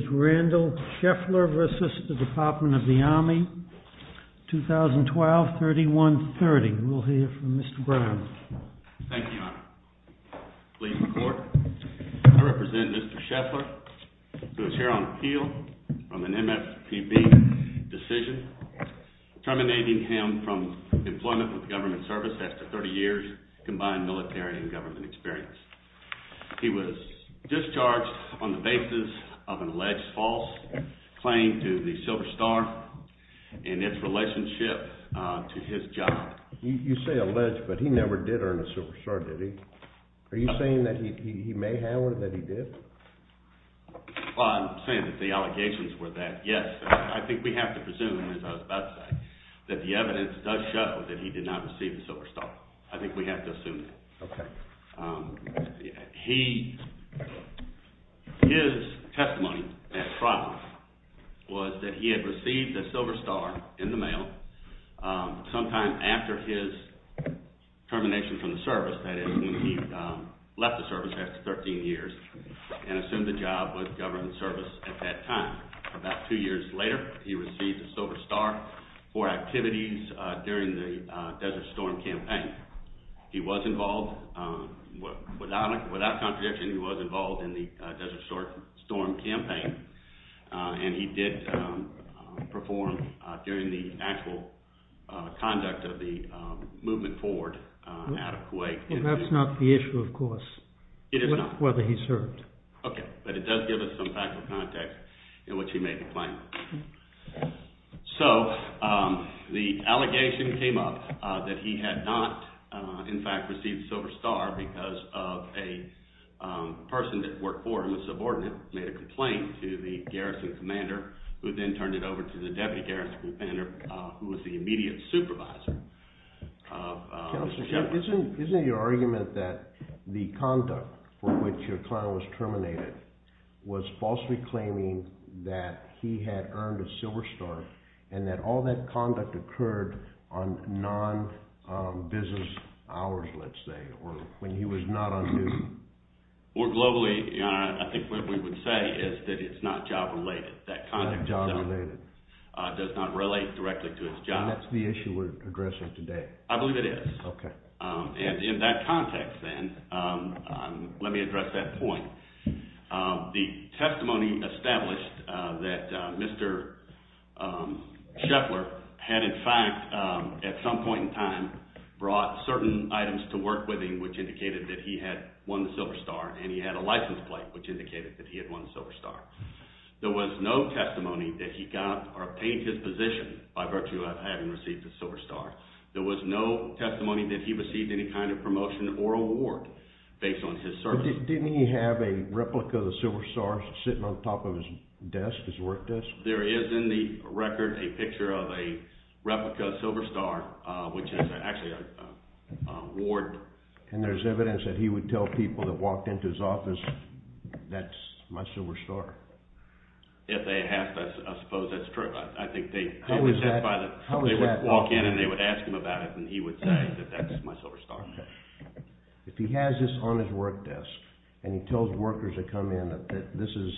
2012-31-30. We'll hear from Mr. Brown. Thank you, Your Honor. Please record. I represent Mr. Scheffler, who is here on appeal on an MFPB decision, terminating him from employment with government service after 30 years combined military and government experience. He was discharged on the basis of an alleged false claim to the Silver Star and its relationship to his job. You say alleged, but he never did earn a Silver Star, did he? Are you saying that he may have or that he did? I'm saying that the allegations were that, yes, I think we have to presume, as I was about to say, that the evidence does show that he did not receive the Silver Star. I think we have to assume that. His testimony at trial was that he had received a Silver Star in the mail sometime after his termination from the service, that is, when he left the service after 13 years and assumed the job with government service at that time. About two years later, he received a Silver Star for activities during the Desert Storm campaign. He was involved, without contradiction, he was involved in the Desert Storm campaign, and he did perform during the actual conduct of the movement forward out of Kuwait. That's not the issue, of course. It is not. Whether he served. Okay, but it does give us some factual context in which he made the claim. So, the allegation came up that he had not, in fact, received the Silver Star because a person that worked for him, a subordinate, made a complaint to the garrison commander, who then turned it over to the deputy garrison commander, who was the immediate supervisor. Counselor, isn't your argument that the conduct for which your client was terminated was falsely claiming that he had earned a Silver Star and that all that conduct occurred on non-business hours, let's say, or when he was not on duty? Globally, I think what we would say is that it's not job-related. Not job-related. That conduct does not relate directly to his job. That's the issue we're addressing today. I believe it is. Okay. And in that context, then, let me address that point. The testimony established that Mr. Scheffler had, in fact, at some point in time, brought certain items to work with him, which indicated that he had won the Silver Star, and he had a license plate, which indicated that he had won the Silver Star. There was no testimony that he got or obtained his position by virtue of having received the Silver Star. There was no testimony that he received any kind of promotion or award based on his service. Didn't he have a replica of the Silver Star sitting on top of his desk, his work desk? There is in the record a picture of a replica Silver Star, which is actually an award. And there's evidence that he would tell people that walked into his office, that's my Silver Star? If they asked, I suppose that's true. I think they would walk in and they would ask him about it, and he would say that that's my Silver Star. If he has this on his work desk, and he tells workers that come in that this is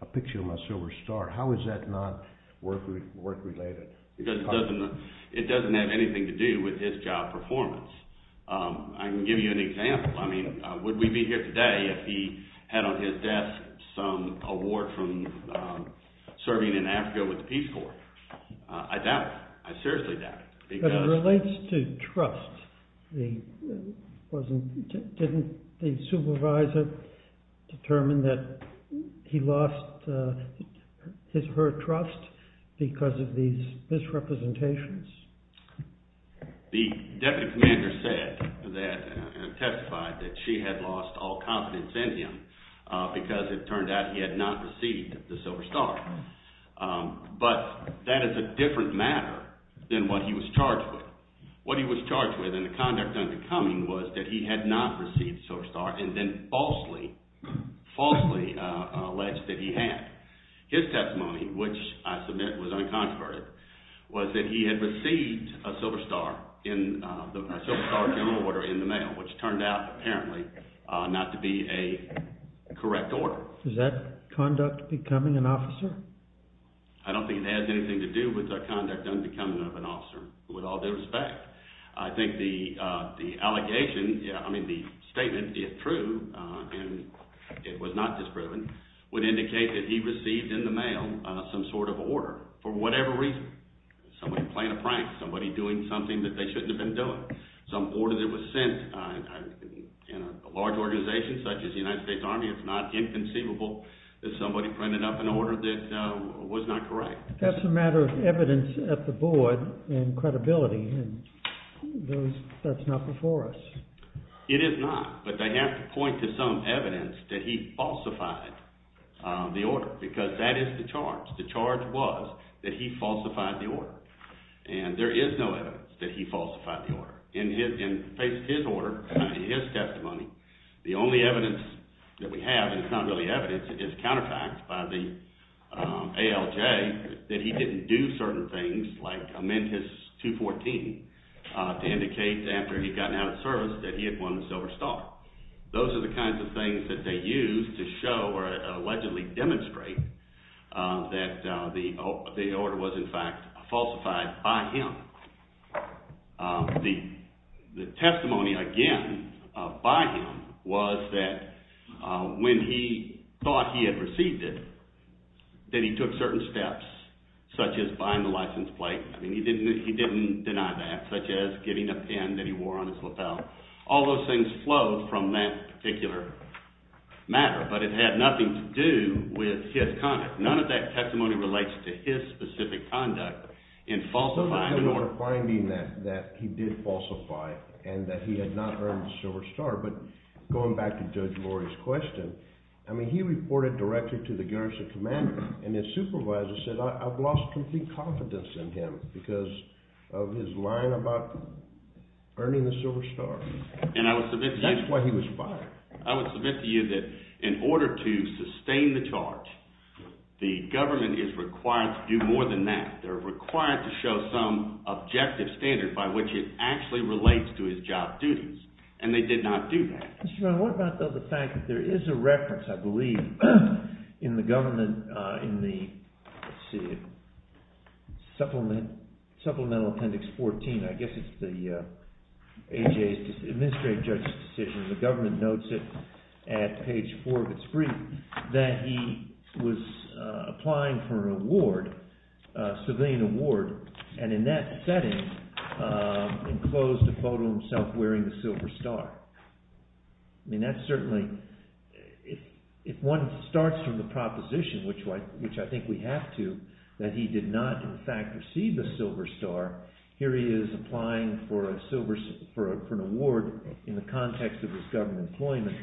a picture of my Silver Star, how is that not work-related? It doesn't have anything to do with his job performance. I can give you an example. I mean, would we be here today if he had on his desk some award from serving in Africa with the Peace Corps? I doubt it. I seriously doubt it. But it relates to trust. Didn't the supervisor determine that he lost her trust because of these misrepresentations? The deputy commander said that – testified that she had lost all confidence in him because it turned out he had not received the Silver Star. But that is a different matter than what he was charged with. What he was charged with in the conduct under coming was that he had not received the Silver Star and then falsely, falsely alleged that he had. His testimony, which I submit was uncontroverted, was that he had received a Silver Star in – a Silver Star general order in the mail, which turned out apparently not to be a correct order. Is that conduct becoming an officer? I don't think it has anything to do with the conduct under coming of an officer. With all due respect, I think the allegation – I mean the statement, if true, and it was not disproven, would indicate that he received in the mail some sort of order for whatever reason. Somebody playing a prank, somebody doing something that they shouldn't have been doing. Some order that was sent in a large organization such as the United States Army. It's not inconceivable that somebody printed up an order that was not correct. That's a matter of evidence at the board and credibility. That's not before us. It is not, but they have to point to some evidence that he falsified the order, because that is the charge. The charge was that he falsified the order, and there is no evidence that he falsified the order. In his order, in his testimony, the only evidence that we have, and it's not really evidence, it's counterfacts by the ALJ, that he didn't do certain things like amend his 214 to indicate after he had gotten out of service that he had won the Silver Star. Those are the kinds of things that they used to show or allegedly demonstrate that the order was in fact falsified by him. The testimony, again, by him was that when he thought he had received it, that he took certain steps such as buying the license plate. He didn't deny that, such as giving a pen that he wore on his lapel. All those things flowed from that particular matter, but it had nothing to do with his conduct. None of that testimony relates to his specific conduct in falsifying the order. He did falsify, and that he had not earned the Silver Star, but going back to Judge Lori's question, I mean, he reported directly to the Garrison Commander, and his supervisor said, I've lost complete confidence in him because of his lying about earning the Silver Star. And I would submit to you… That's why he was fired. I would submit to you that in order to sustain the charge, the government is required to do more than that. They're required to show some objective standard by which it actually relates to his job duties, and they did not do that. Mr. Brown, what about the fact that there is a reference, I believe, in the government, in the Supplemental Appendix 14, I guess it's the AJA Administrative Judge's decision, the government notes it at page 4 of its brief, that he was applying for an award, a civilian award, and in that setting enclosed a photo of himself wearing the Silver Star. I mean, that's certainly – if one starts from the proposition, which I think we have to, that he did not in fact receive the Silver Star, here he is applying for an award in the context of his government employment,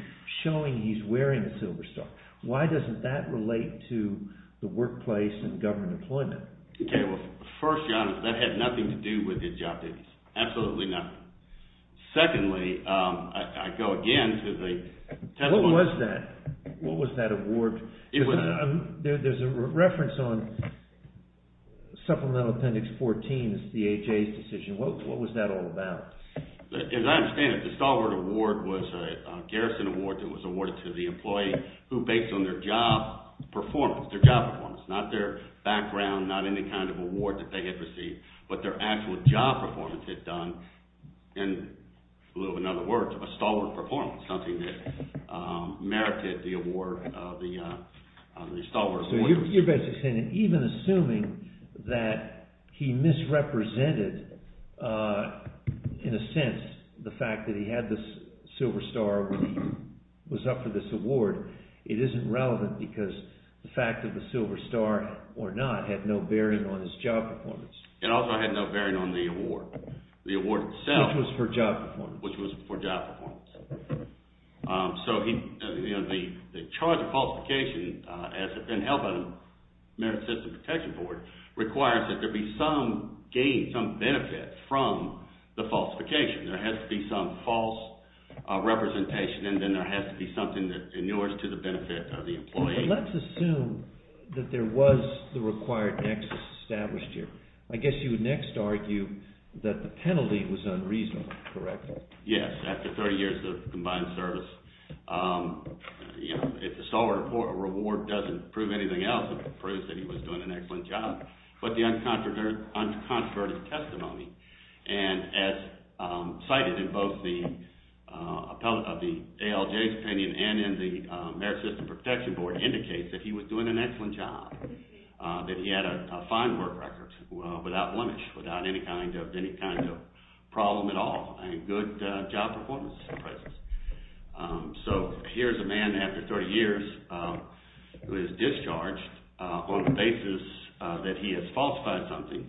showing he's wearing the Silver Star. Why doesn't that relate to the workplace and government employment? Okay, well, first, John, that had nothing to do with his job duties. Absolutely nothing. Secondly, I go again to the testimony… What was that? What was that award? There's a reference on Supplemental Appendix 14, it's the AJA's decision. What was that all about? As I understand it, the Stalwart Award was a garrison award that was awarded to the employee who based on their job performance, their job performance, not their background, not any kind of award that they had received, but their actual job performance had done, in a little bit of another word, a Stalwart performance, something that merited the award, the Stalwart Award. So you're basically saying that even assuming that he misrepresented, in a sense, the fact that he had the Silver Star when he was up for this award, it isn't relevant because the fact of the Silver Star or not had no bearing on his job performance. It also had no bearing on the award, the award itself. Which was for job performance. So the charge of falsification, as it's been held by the Merit System Protection Board, requires that there be some gain, some benefit from the falsification. There has to be some false representation and then there has to be something that inures to the benefit of the employee. Let's assume that there was the required nexus established here. I guess you would next argue that the penalty was unreasonable, correct? Yes, after 30 years of combined service. If the Stalwart Award doesn't prove anything else, it proves that he was doing an excellent job. But the uncontroverted testimony, as cited in both the ALJ's opinion and in the Merit System Protection Board, indicates that he was doing an excellent job, that he had a fine work record without blemish, without any kind of problem at all and good job performance in the presence. So here's a man after 30 years who is discharged on the basis that he has falsified something,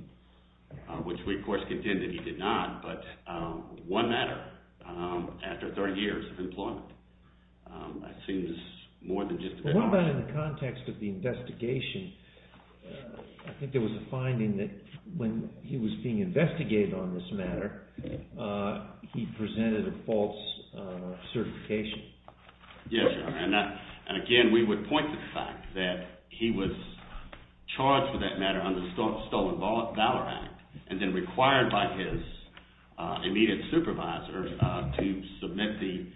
which we of course contend that he did not, but one matter after 30 years of employment. That seems more than justified. What about in the context of the investigation? I think there was a finding that when he was being investigated on this matter, he presented a false certification. Yes, and again, we would point to the fact that he was charged for that matter under the Stolen Valor Act and then required by his immediate supervisor to submit the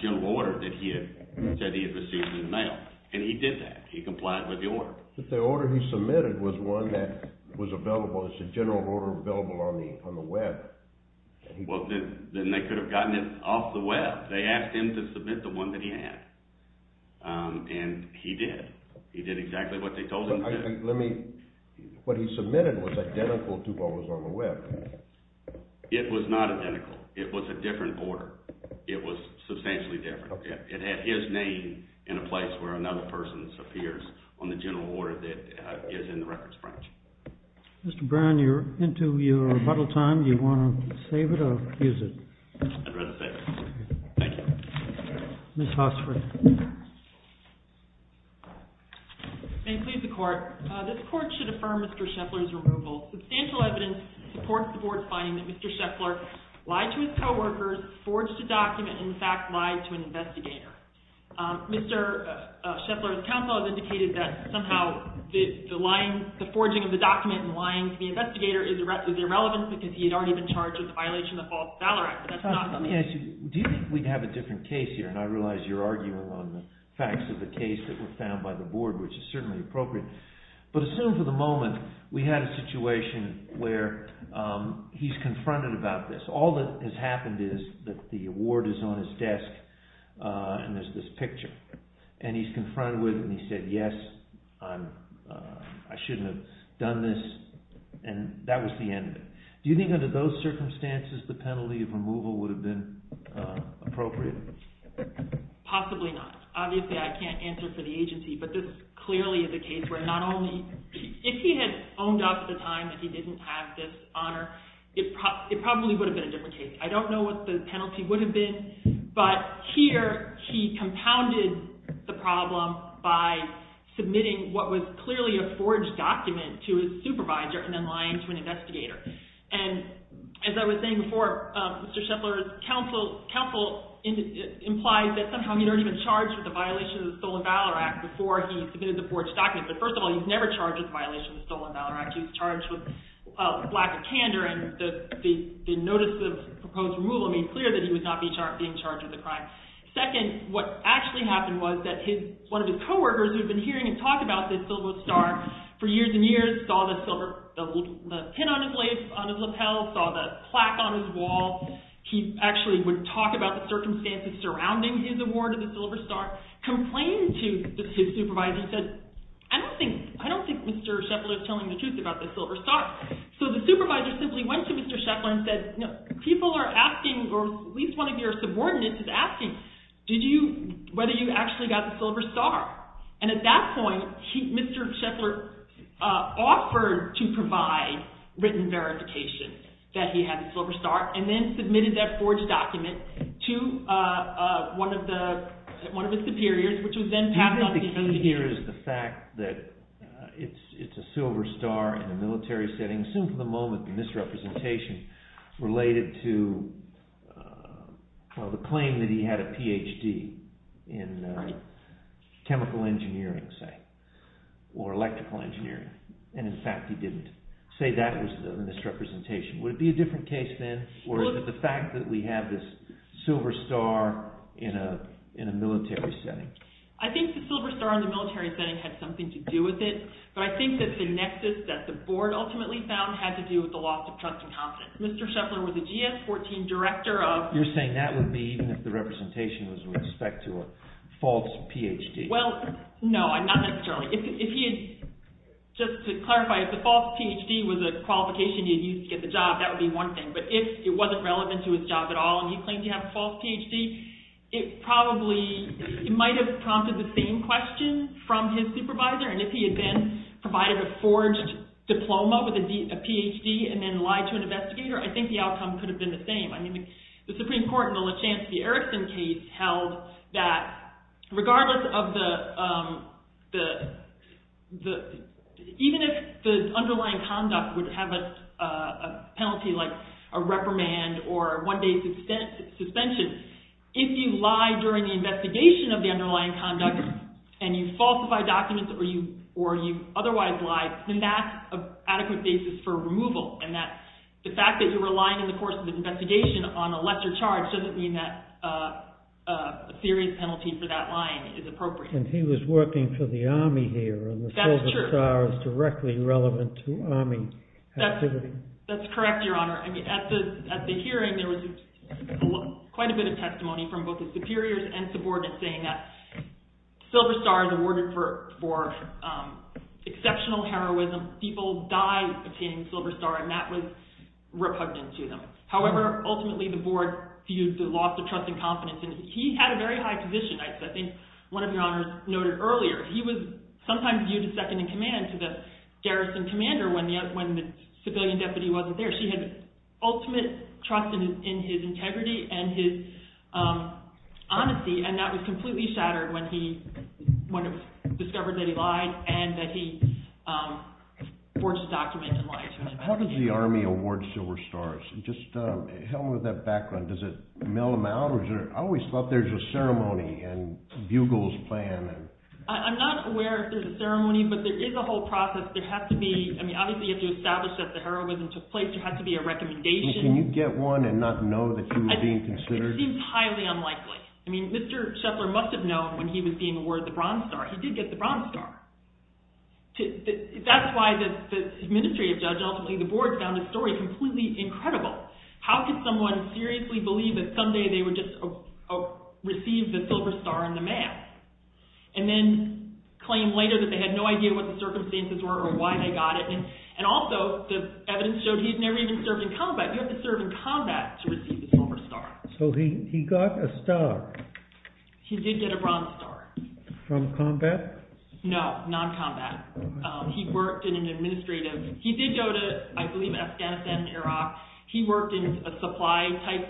general order that he had received in the mail. And he did that, he complied with the order. But the order he submitted was one that was available, it's a general order available on the web. Well, then they could have gotten it off the web. They asked him to submit the one that he had and he did. He did exactly what they told him to do. Let me, what he submitted was identical to what was on the web. It was not identical. It was a different order. It was substantially different. It had his name in a place where another person's appears on the general order that is in the records branch. Mr. Brown, you're into your rebuttal time. Do you want to save it or use it? I'd rather save it. Thank you. Ms. Hossford. May it please the Court. This Court should affirm Mr. Scheffler's removal. Substantial evidence supports the Board's finding that Mr. Scheffler lied to his coworkers, forged a document, and in fact lied to an investigator. Mr. Scheffler's counsel has indicated that somehow the lying, the forging of the document and lying to the investigator is irrelevant because he had already been charged with a violation of the False Valor Act. Do you think we'd have a different case here? And I realize you're arguing on the facts of the case that were found by the Board, which is certainly appropriate. But assume for the moment we had a situation where he's confronted about this. All that has happened is that the award is on his desk and there's this picture. And he's confronted with it and he said, yes, I shouldn't have done this, and that was the end of it. Do you think under those circumstances the penalty of removal would have been appropriate? Possibly not. Obviously, I can't answer for the agency, but this clearly is a case where not only – If he had phoned up at the time that he didn't have this honor, it probably would have been a different case. I don't know what the penalty would have been. But here he compounded the problem by submitting what was clearly a forged document to his supervisor and then lying to an investigator. And as I was saying before, Mr. Scheffler's counsel implies that somehow he'd already been charged with a violation of the Stolen Valor Act before he submitted the forged document. But first of all, he was never charged with a violation of the Stolen Valor Act. He was charged with lack of candor and the notice of proposed removal made clear that he was not being charged with a crime. Second, what actually happened was that one of his co-workers who had been hearing him talk about the Silver Star for years and years saw the pin on his lace on his lapel, saw the plaque on his wall. He actually would talk about the circumstances surrounding his award of the Silver Star, complained to his supervisor, said, I don't think Mr. Scheffler is telling the truth about the Silver Star. So the supervisor simply went to Mr. Scheffler and said, people are asking, or at least one of your subordinates is asking, whether you actually got the Silver Star. And at that point, Mr. Scheffler offered to provide written verification that he had the Silver Star. And then submitted that forged document to one of his superiors, which was then passed on to him. So what you're getting here is the fact that it's a Silver Star in a military setting, assumed for the moment the misrepresentation related to the claim that he had a Ph.D. in chemical engineering, say, or electrical engineering. And in fact, he didn't say that was the misrepresentation. Would it be a different case then, or is it the fact that we have this Silver Star in a military setting? I think the Silver Star in the military setting had something to do with it. But I think that the nexus that the board ultimately found had to do with the loss of trust and confidence. Mr. Scheffler was a GS-14 director of – You're saying that would be even if the representation was with respect to a false Ph.D. Well, no, not necessarily. If he had – just to clarify, if the false Ph.D. was a qualification he had used to get the job, that would be one thing. But if it wasn't relevant to his job at all and he claimed to have a false Ph.D., it probably – it might have prompted the same question from his supervisor. And if he had then provided a forged diploma with a Ph.D. and then lied to an investigator, I think the outcome could have been the same. I mean, the Supreme Court in the LaChance v. Erickson case held that regardless of the – even if the underlying conduct would have a penalty like a reprimand or a one-day suspension, if you lie during the investigation of the underlying conduct and you falsify documents or you otherwise lie, then that's an adequate basis for removal. And that – the fact that you were lying in the course of the investigation on a lesser charge doesn't mean that a serious penalty for that lying is appropriate. And he was working for the Army here. That's true. And the Silver Star is directly relevant to Army activity. That's correct, Your Honor. I mean, at the hearing there was quite a bit of testimony from both the superiors and subordinates saying that Silver Star is awarded for exceptional heroism. People died obtaining Silver Star, and that was repugnant to them. However, ultimately the board viewed the loss of trust and confidence. And he had a very high position, I think one of Your Honors noted earlier. He was sometimes viewed as second in command to the garrison commander when the civilian deputy wasn't there. She had ultimate trust in his integrity and his honesty, and that was completely shattered when he discovered that he lied and that he forged a document and lied to him. How does the Army award Silver Stars? Just help me with that background. Does it mail them out, or is there – I always thought there was a ceremony and Bugle's plan. I'm not aware if there's a ceremony, but there is a whole process. There has to be – I mean, obviously you have to establish that the heroism took place. There has to be a recommendation. Can you get one and not know that you were being considered? It seems highly unlikely. I mean, Mr. Sheffler must have known when he was being awarded the Bronze Star. He did get the Bronze Star. That's why the administrative judge ultimately – the board found his story completely incredible. How could someone seriously believe that someday they would just receive the Silver Star in the mail? And then claim later that they had no idea what the circumstances were or why they got it. And also the evidence showed he's never even served in combat. You have to serve in combat to receive the Silver Star. So he got a star. He did get a Bronze Star. From combat? No, non-combat. He worked in an administrative – he did go to, I believe, Afghanistan and Iraq. He worked in a supply-type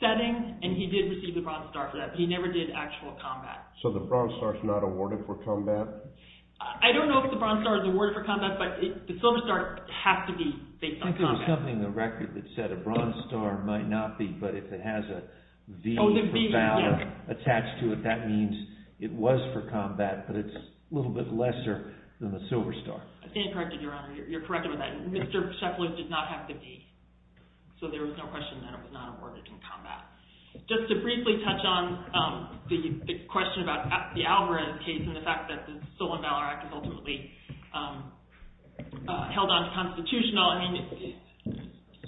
setting, and he did receive the Bronze Star for that, but he never did actual combat. So the Bronze Star is not awarded for combat? I don't know if the Bronze Star is awarded for combat, but the Silver Star has to be based on combat. I think there was something in the record that said a Bronze Star might not be, but if it has a V for valor attached to it, that means it was for combat, but it's a little bit lesser than the Silver Star. I think you're correct, Your Honor. You're correct about that. Mr. Sheffler did not have to be, so there was no question that it was not awarded in combat. Just to briefly touch on the question about the Alvarez case and the fact that the Stolen Valor Act is ultimately held unconstitutional, I mean,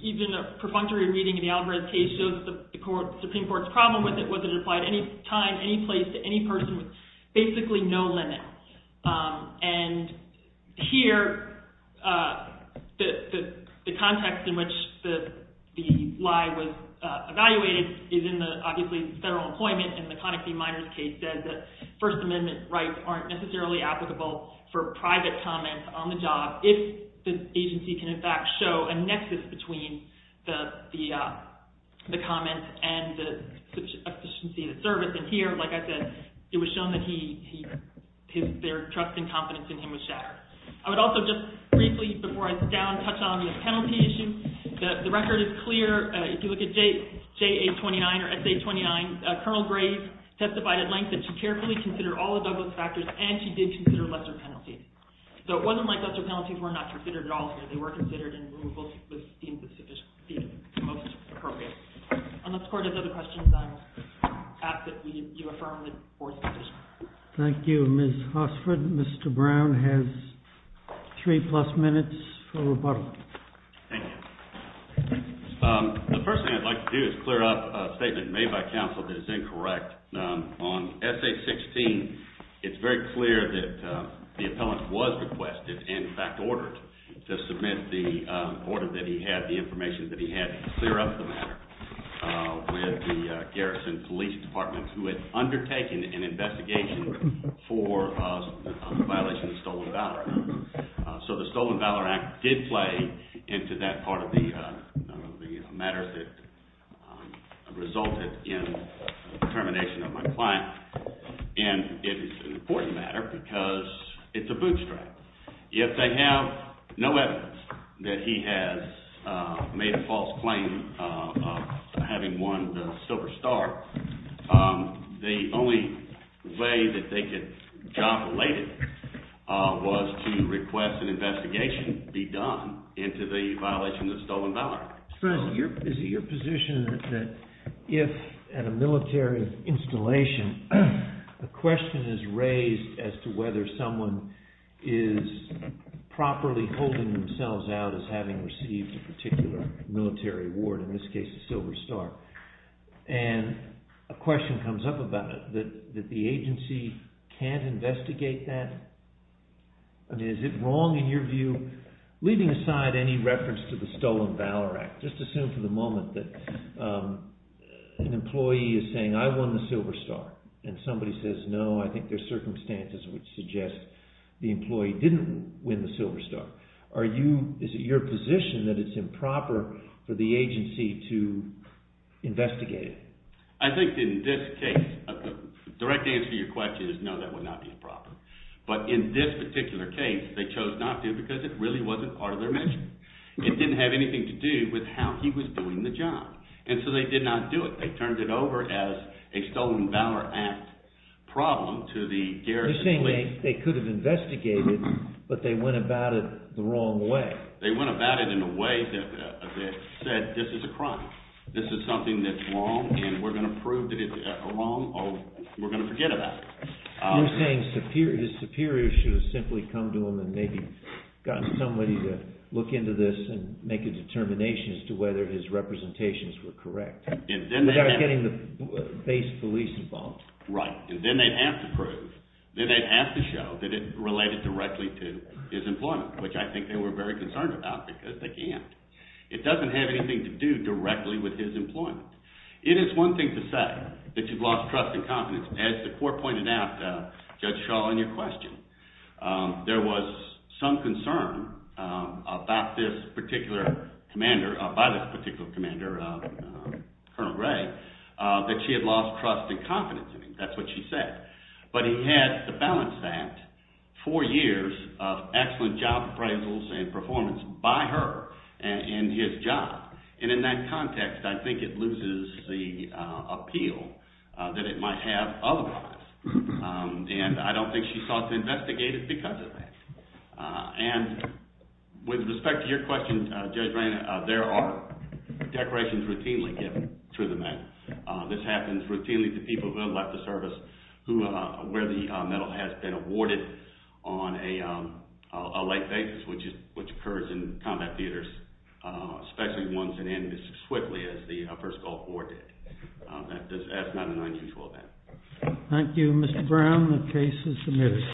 even a perfunctory reading of the Alvarez case shows the Supreme Court's problem with it was that it applied any time, any place, to any person with basically no limits. And here, the context in which the lie was evaluated is in the, obviously, federal employment, and the Conoxy Minors case said that First Amendment rights aren't necessarily applicable for private comments on the job if the agency can, in fact, show a nexus between the comment and the efficiency of the service. And here, like I said, it was shown that their trust and confidence in him was shattered. I would also just briefly, before I sit down, touch on the penalty issue. The record is clear. If you look at JA-29 or SA-29, Colonel Graves testified at length that she carefully considered all of those factors and she did consider lesser penalties. So it wasn't like lesser penalties were not considered at all here. They were considered and were deemed the most appropriate. Unless court has other questions, I will ask that you affirm the fourth position. Thank you, Ms. Hossford. Mr. Brown has three-plus minutes for rebuttal. Thank you. The first thing I'd like to do is clear up a statement made by counsel that is incorrect. On SA-16, it's very clear that the appellant was requested, in fact, ordered, to submit the order that he had, the information that he had to clear up the matter with the Garrison Police Department who had undertaken an investigation for a violation of the Stolen Valor Act. So the Stolen Valor Act did play into that part of the matter that resulted in the termination of my client. And it is an important matter because it's a bootstrap. If they have no evidence that he has made a false claim of having won the Silver Star, the only way that they could job relate it was to request an investigation be done into the violation of the Stolen Valor Act. Mr. Brown, is it your position that if, at a military installation, a question is raised as to whether someone is properly holding themselves out as having received a particular military award, in this case a Silver Star, and a question comes up about it, that the agency can't investigate that? I mean, is it wrong in your view, leaving aside any reference to the Stolen Valor Act, just assume for the moment that an employee is saying, I won the Silver Star, and somebody says, no, I think there are circumstances which suggest the employee didn't win the Silver Star. Is it your position that it's improper for the agency to investigate it? I think in this case, the direct answer to your question is no, that would not be improper. But in this particular case, they chose not to because it really wasn't part of their mission. It didn't have anything to do with how he was doing the job. And so they did not do it. They turned it over as a Stolen Valor Act problem to the Garrison Police. You're saying they could have investigated, but they went about it the wrong way. They went about it in a way that said, this is a crime. This is something that's wrong, and we're going to prove that it's wrong, or we're going to forget about it. You're saying his superiors should have simply come to him and maybe gotten somebody to look into this and make a determination as to whether his representations were correct without getting the base police involved. Right. And then they'd have to prove. Then they'd have to show that it related directly to his employment, which I think they were very concerned about because they can't. It doesn't have anything to do directly with his employment. It is one thing to say that you've lost trust and confidence. As the court pointed out, Judge Shaw, in your question, there was some concern by this particular commander, Colonel Ray, that she had lost trust and confidence in him. That's what she said. But he had the Balance Act, four years of excellent job appraisals and performance by her in his job. And in that context, I think it loses the appeal that it might have otherwise. And I don't think she sought to investigate it because of that. And with respect to your question, Judge Ray, there are declarations routinely given to the men. This happens routinely to people who have left the service where the medal has been awarded on a late basis, which occurs in combat theaters, especially ones that end as quickly as the First Gulf War did. That's not an unusual event. Thank you, Mr. Brown. The case is submitted.